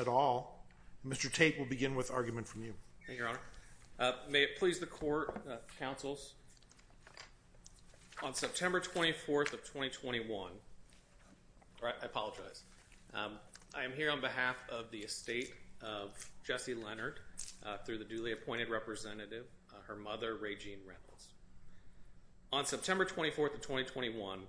at all. Mr. Tate will begin with argument from you, your honor. May it please the court councils. On September 24th of 2021, right? I apologize. I am here on behalf of the estate of Jesse Leonard through the duly appointed representative, her mother, Rae-Jean Reynolds. On September 24th of 2021,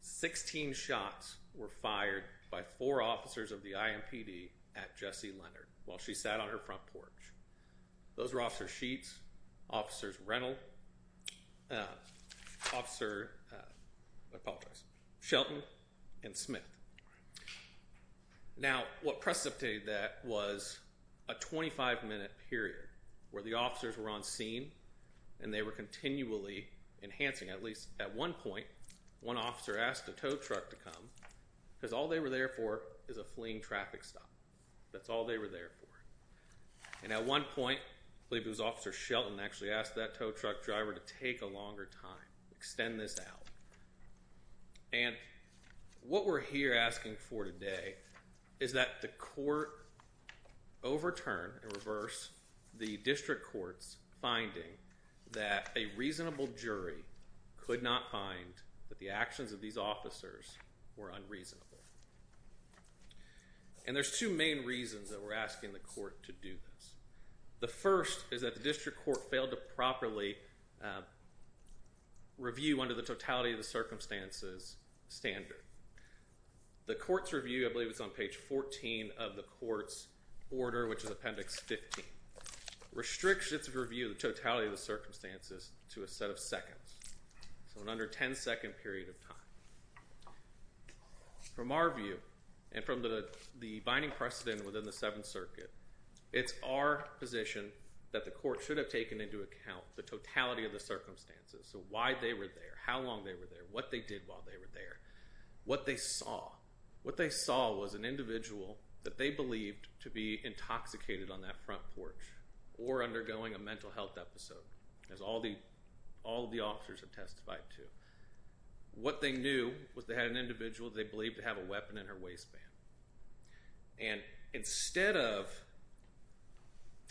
16 shots were fired by four officers of the IMPD at Jesse Leonard while she sat on her front porch. Those were officer Sheets, officers Reynolds, officer Shelton and Smith. Now what precipitated that was a 25 minute period where the officers were on scene and they were continually enhancing. At least at one point, one officer asked a tow truck to come because all they were there for is a fleeing traffic stop. That's all they were there for. And at one point, I believe it was officer Shelton actually asked that tow truck driver to take a longer time, extend this out. And what we're here asking for today is that the court overturn and reverse the district courts finding that a reasonable jury could not find that the actions of these officers were unreasonable. And there's two main reasons that we're asking the court to do this. The first is that the district court failed to properly review under the totality of the circumstances standard. The court's review, I believe it's on page 14 of the court's order, which is appendix 15, restricts its review of the totality of the circumstances to a set of seconds. So an under 10 second period of time. From our view and from the binding precedent within the Seventh Circuit, it's our position that the court should have taken into account the totality of the circumstances. So why they were there, how long they were there, what they did while they were there, what they saw. What they saw was an individual that they believed to be intoxicated on that front porch or undergoing a mental health episode, as all the officers have testified to. What they knew was they had an individual they believed to have a weapon in her waistband. And instead of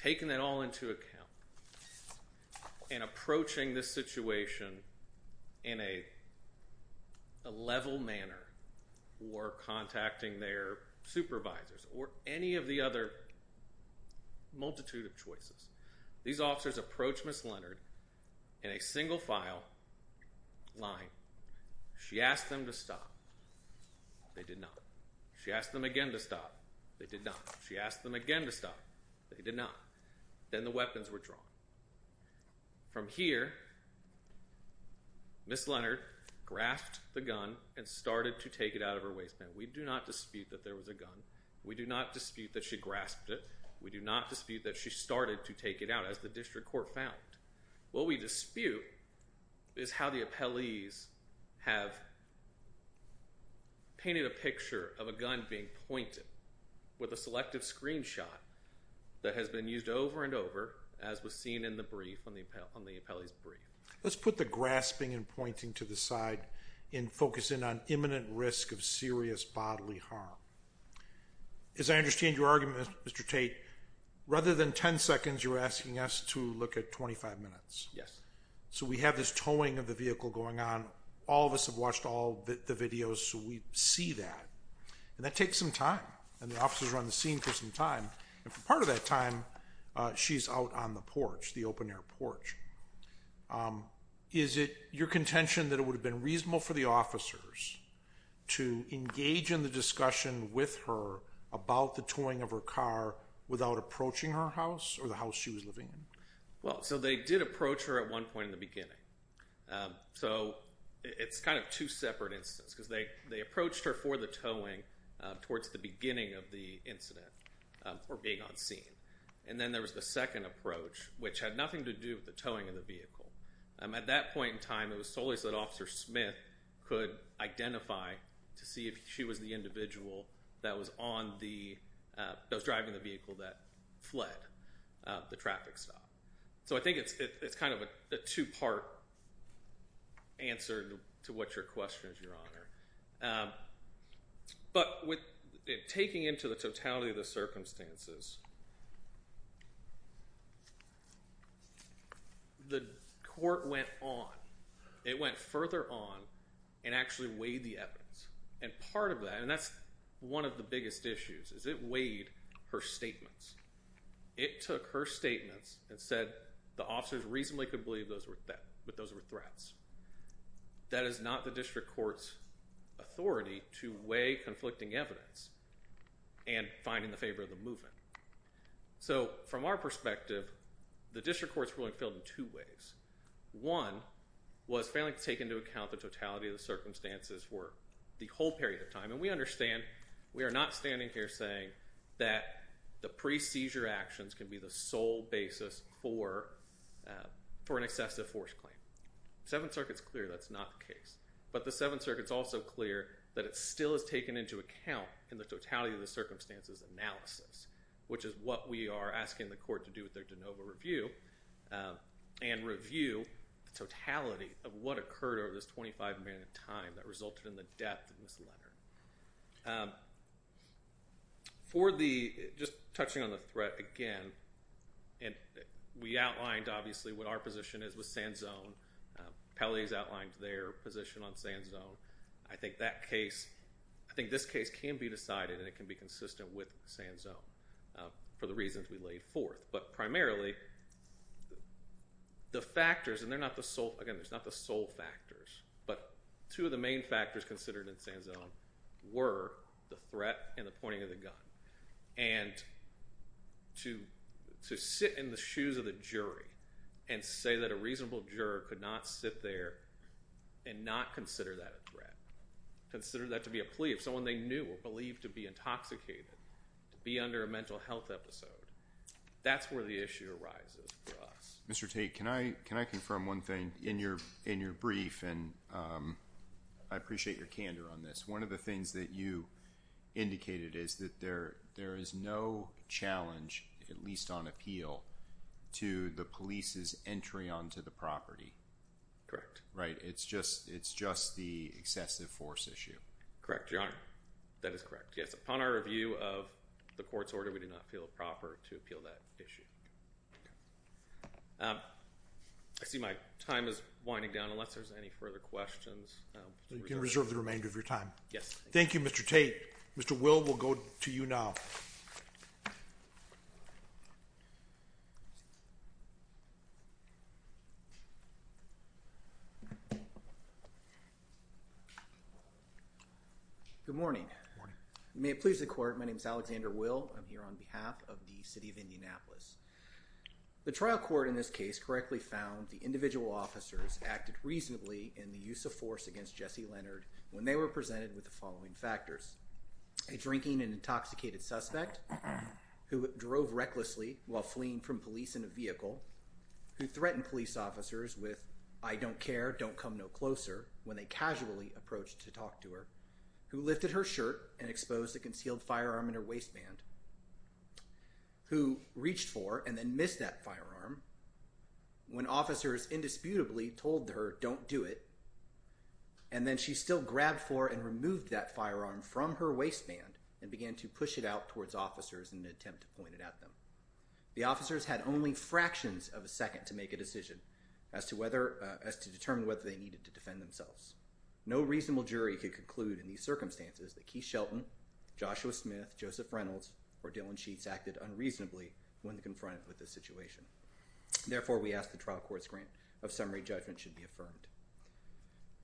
taking that all into account and approaching this situation in a level manner or contacting their supervisors or any of the other multitude of choices, these officers approached Ms. Leonard in a single file line. She asked them to stop. They did not. She asked them again to stop. They did not. She asked them again to stop. They did not. Then the weapons were drawn. From here, Ms. Leonard grasped the gun and started to take it out of her waistband. We do not dispute that there was a gun. We do not dispute that she grasped it. We do not dispute that she started to take it out, as the district court found. What we dispute is how the appellees have painted a picture of a gun being pointed with a selective screenshot that has been used over and over, as was seen in the brief on the appellee's brief. Let's put the grasping and pointing to the side and focus in on imminent risk of serious bodily harm. As I understand your argument, Mr. Tate, rather than 10 seconds, you're asking us to look at 25 minutes. Yes. So we have this towing of the vehicle going on. All of us have watched all the videos. So we see that. That takes some time. The officers are on the scene for some time. For part of that time, she's out on the porch, the open-air porch. Is it your contention that it would have been reasonable for the officers to engage in the discussion with her about the towing of her car without approaching her house or the house she was living in? Well, so they did approach her at one point in the beginning. So it's kind of two separate instances, because they approached her for the towing towards the beginning of the incident or being on scene. And then there was the second approach, which had nothing to do with the towing of the vehicle. At that point in time, it was solely so that Officer Smith could identify to see if she was the individual that was driving the vehicle that fled the traffic stop. So I think it's kind of a two-part answer to what your question is, Your Honor. But taking into the totality of the circumstances, the court went on. It went further on and actually weighed the evidence. And part of that, and that's one of the biggest issues, is it weighed her statements. It took her statements and said the officers reasonably could believe that those were threats. That is not the district court's authority to weigh conflicting evidence and find in the favor of the movement. So from our perspective, the district court's ruling failed in two ways. One was failing to take into account the totality of the circumstances for the whole period of time. And we understand we are not standing here saying that the pre-seizure actions can be the sole basis for an excessive force claim. Seventh Circuit's clear that's not the case. But the Seventh Circuit's also clear that it still is taken into account in the totality of the circumstances analysis, which is what we are asking the court to do with their de novo review and review the totality of what occurred over this 25 minute time that resulted in the death of Ms. Leonard. For the, just touching on the threat again, and we outlined obviously what our position is with Sand Zone. Pelley's outlined their position on Sand Zone. I think that case, I think this case can be decided and it can be consistent with Sand Zone for the reasons we laid forth. But primarily, the factors, and they're not the sole, again it's not the sole factors, but two of the main factors considered in Sand Zone were the threat and the pointing of the gun. And to sit in the shoes of the jury and say that a reasonable juror could not sit there and not consider that a threat. Consider that to be a plea of someone they knew or believed to be intoxicated, to be under a mental health episode. That's where the issue arises for us. Mr. Tate, can I confirm one thing in your brief, and I appreciate your candor on this. One of the things that you indicated is that there is no challenge, at least on appeal, to the police's entry onto the property. Correct. Right? It's just the excessive force issue. Correct, Your Honor. That is correct. Yes, upon our review of the court's order, we do not feel proper to appeal that issue. I see my time is winding down, unless there's any further questions. You can reserve the remainder of your time. Yes. Thank you, Mr. Tate. Mr. Will will go to you now. Good morning. Good morning. May it please the court, my name is Alexander Will. I'm here on behalf of the city of Indianapolis. The trial court in this case correctly found the individual officers acted reasonably in the use of force against Jesse Leonard when they were presented with the following factors. A drinking and intoxicated suspect who drove recklessly while fleeing from police in a vehicle, who threatened police officers with, I don't care, don't come no closer, when they casually approached to talk to her, who lifted her shirt and exposed a concealed firearm in her waistband, who reached for and then missed that firearm when officers indisputably told her, don't do it. And then she still grabbed for and removed that firearm from her waistband and began to push it out towards officers in an attempt to point it at them. The officers had only fractions of a second to make a decision as to whether, as to determine whether they needed to defend themselves. No reasonable jury could conclude in these circumstances that Keith Shelton, Joshua Smith, Joseph Reynolds, or Dylan Sheets acted unreasonably when confronted with this situation. Therefore, we ask the trial court's grant of summary judgment should be affirmed.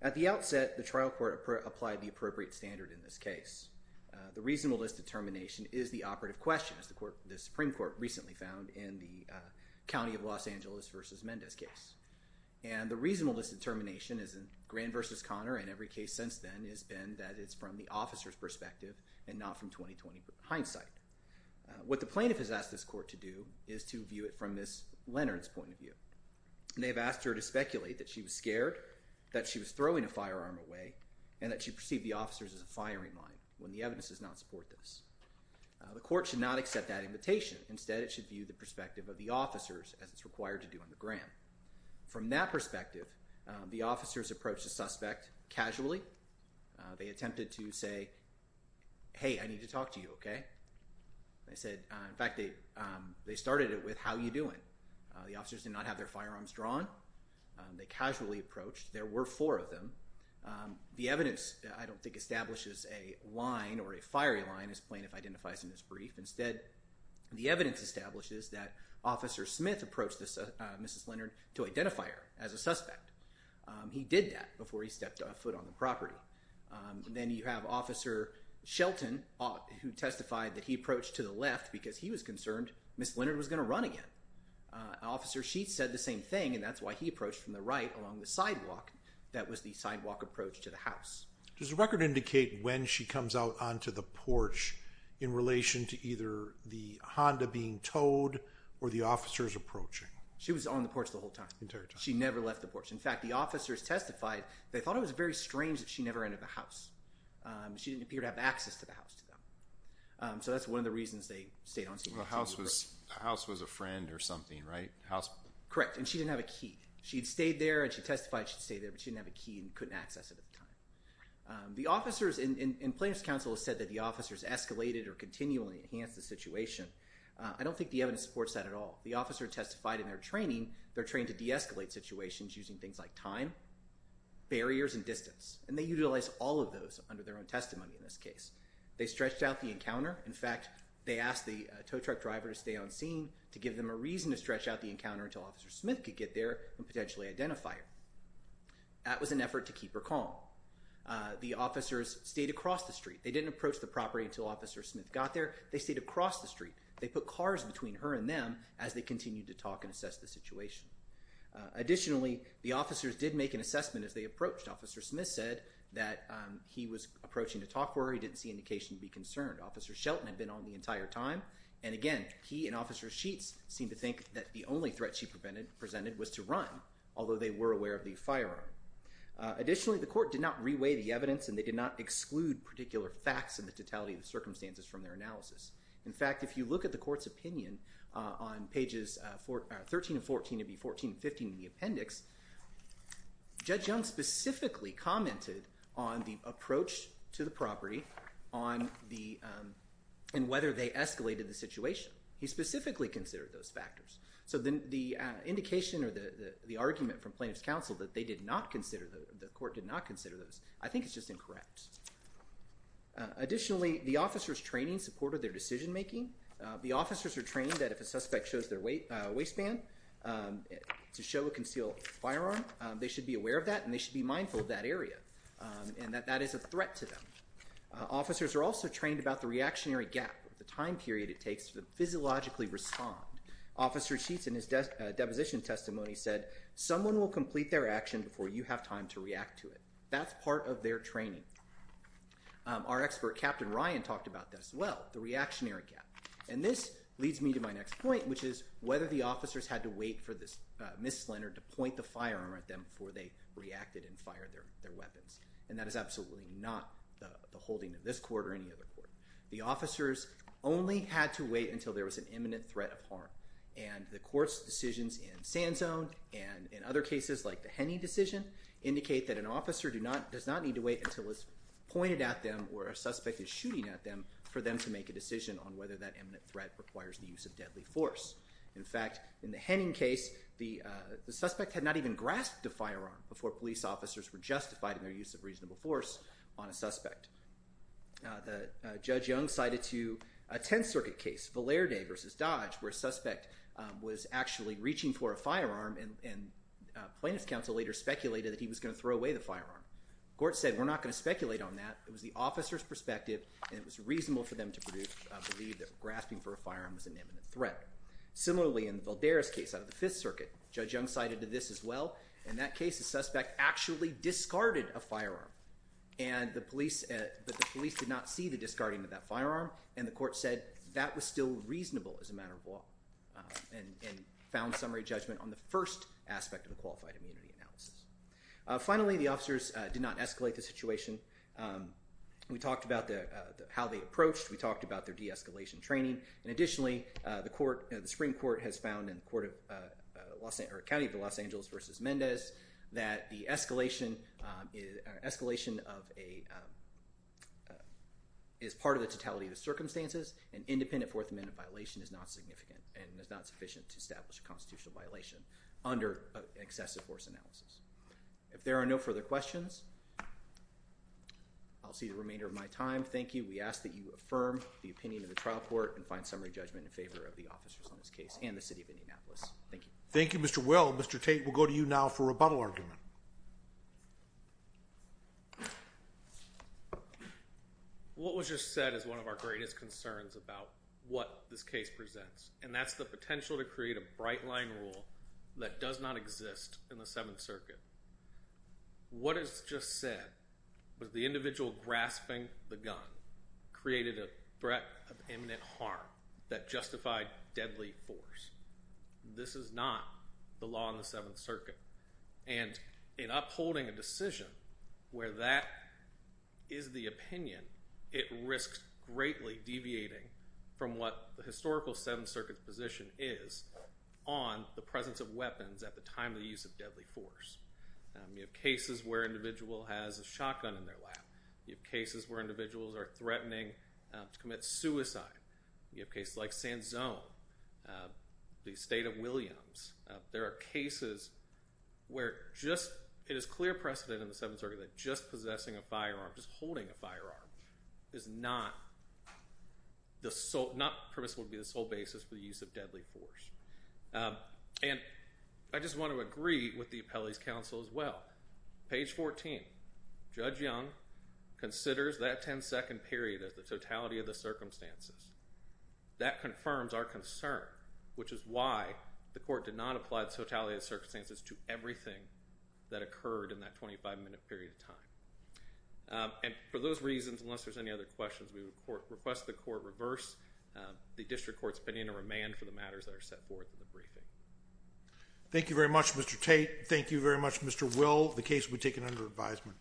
At the outset, the trial court applied the appropriate standard in this case. The reasonableness determination is the operative question, as the Supreme Court recently found in the county of Los Angeles versus Mendez case. And the reasonableness determination is in Grand versus Connor and every case since then has been that it's from the officer's perspective and not from 20-20 hindsight. What the plaintiff has asked this court to do is to view it from Ms. Leonard's point of view. They have asked her to speculate that she was scared, that she was throwing a firearm away, and that she perceived the officers as a firing line when the evidence does not support this. The court should not accept that invitation. Instead, it should view the perspective of the officers as it's required to do on the grant. From that perspective, the officers approached the suspect casually. They attempted to say, hey, I need to talk to you, okay? They said, in fact, they started it with, how are you doing? The officers did not have their firearms drawn. They casually approached. There were four of them. The evidence, I don't think, establishes a line or a fiery line, as plaintiff identifies in this brief. Instead, the evidence establishes that Officer Smith approached Ms. Leonard to identify her as a suspect. He did that before he stepped a foot on the property. Then you have Officer Shelton who testified that he approached to the left because he was concerned Ms. Leonard was going to run again. Officer Sheets said the same thing, and that's why he approached from the right along the sidewalk. That was the sidewalk approach to the house. Does the record indicate when she comes out onto the porch in relation to either the Honda being towed or the officers approaching? She was on the porch the whole time. She never left the porch. In fact, the officers testified they thought it was very strange that she never entered the house. She didn't appear to have access to the house to them. That's one of the reasons they stayed on scene. The house was a friend or something, right? Correct, and she didn't have a key. She'd stayed there, and she testified she'd stayed there, but she didn't have a key and couldn't access it at the time. The officers in Plaintiff's Counsel have said that the officers escalated or continually enhanced the situation. I don't think the evidence supports that at all. The officer testified in their training they're trained to de-escalate situations using things like time, barriers, and distance. And they utilize all of those under their own testimony in this case. They stretched out the encounter. In fact, they asked the tow truck driver to stay on scene to give them a reason to stretch out the encounter until Officer Smith could get there and potentially identify her. That was an effort to keep her calm. The officers stayed across the street. They didn't approach the property until Officer Smith got there. They stayed across the street. They put cars between her and them as they continued to talk and assess the situation. Additionally, the officers did make an assessment as they approached. Officer Smith said that he was approaching to talk to her. He didn't see indication to be concerned. Officer Shelton had been on the entire time. And again, he and Officer Sheets seemed to think that the only threat she presented was to run, although they were aware of the firearm. Additionally, the court did not re-weigh the evidence, and they did not exclude particular facts in the totality of the circumstances from their analysis. In fact, if you look at the court's opinion on pages 13 and 14, it would be 14 and 15 in the appendix, Judge Young specifically commented on the approach to the property and whether they escalated the situation. He specifically considered those factors. So the indication or the argument from plaintiff's counsel that they did not consider those, the court did not consider those, I think is just incorrect. Additionally, the officers' training supported their decision-making. The officers are trained that if a suspect shows their waistband to show a concealed firearm, they should be aware of that and they should be mindful of that area and that that is a threat to them. Officers are also trained about the reactionary gap, the time period it takes to physiologically respond. Officer Sheets in his deposition testimony said, someone will complete their action before you have time to react to it. That's part of their training. Our expert, Captain Ryan, talked about that as well, the reactionary gap. And this leads me to my next point, which is whether the officers had to wait for Ms. Slender to point the firearm at them before they reacted and fired their weapons. And that is absolutely not the holding of this court or any other court. The officers only had to wait until there was an imminent threat of harm. And the court's decisions in Sand Zone and in other cases like the Henning decision indicate that an officer does not need to wait until it's pointed at them or a suspect is shooting at them for them to make a decision on whether that imminent threat requires the use of deadly force. In fact, in the Henning case, the suspect had not even grasped the firearm before police officers were justified in their use of reasonable force on a suspect. Judge Young cited to a Tenth Circuit case, Valerde versus Dodge, where a suspect was actually reaching for a firearm and plaintiff's counsel later speculated that he was going to throw away the firearm. Court said, we're not going to speculate on that. It was the officer's perspective and it was reasonable for them to believe that grasping for a firearm was an imminent threat. Similarly, in Valdera's case out of the Fifth Circuit, Judge Young cited to this as well. In that case, the suspect actually discarded a firearm and the police did not see the discarding of that firearm. And the court said that was still reasonable as a matter of law and found summary judgment on the first aspect of the qualified immunity analysis. Finally, the officers did not escalate the situation. We talked about how they approached. We talked about their de-escalation training. And additionally, the Supreme Court has found in the County of Los Angeles versus Mendez that the escalation is part of the totality of the circumstances. An independent Fourth Amendment violation is not significant and is not sufficient to establish a constitutional violation under excessive force analysis. If there are no further questions, I'll see the remainder of my time. Thank you. We ask that you affirm the opinion of the trial court and find summary judgment in favor of the officers on this case and the City of Indianapolis. Thank you. Thank you, Mr. Will. Mr. Tate, we'll go to you now for a rebuttal argument. What was just said is one of our greatest concerns about what this case presents. And that's the potential to create a bright line rule that does not exist in the Seventh Circuit. What is just said was the individual grasping the gun created a threat of imminent harm that justified deadly force. This is not the law in the Seventh Circuit. And in upholding a decision where that is the opinion, it risks greatly deviating from what the historical Seventh Circuit's position is on the presence of weapons at the time of the use of deadly force. You have cases where an individual has a shotgun in their lap. You have cases where individuals are threatening to commit suicide. You have cases like San Zone, the State of Williams. There are cases where it is clear precedent in the Seventh Circuit that just possessing a firearm, just holding a firearm, is not permissible to be the sole basis for the use of deadly force. And I just want to agree with the appellee's counsel as well. Page 14, Judge Young considers that 10-second period as the totality of the circumstances. That confirms our concern, which is why the court did not apply the totality of the circumstances to everything that occurred in that 25-minute period of time. And for those reasons, unless there's any other questions, we request the court reverse the district court's opinion and remand for the matters that are set forth in the briefing. Thank you very much, Mr. Tate. Thank you very much, Mr. Will. The case will be taken under advisement. Thank you.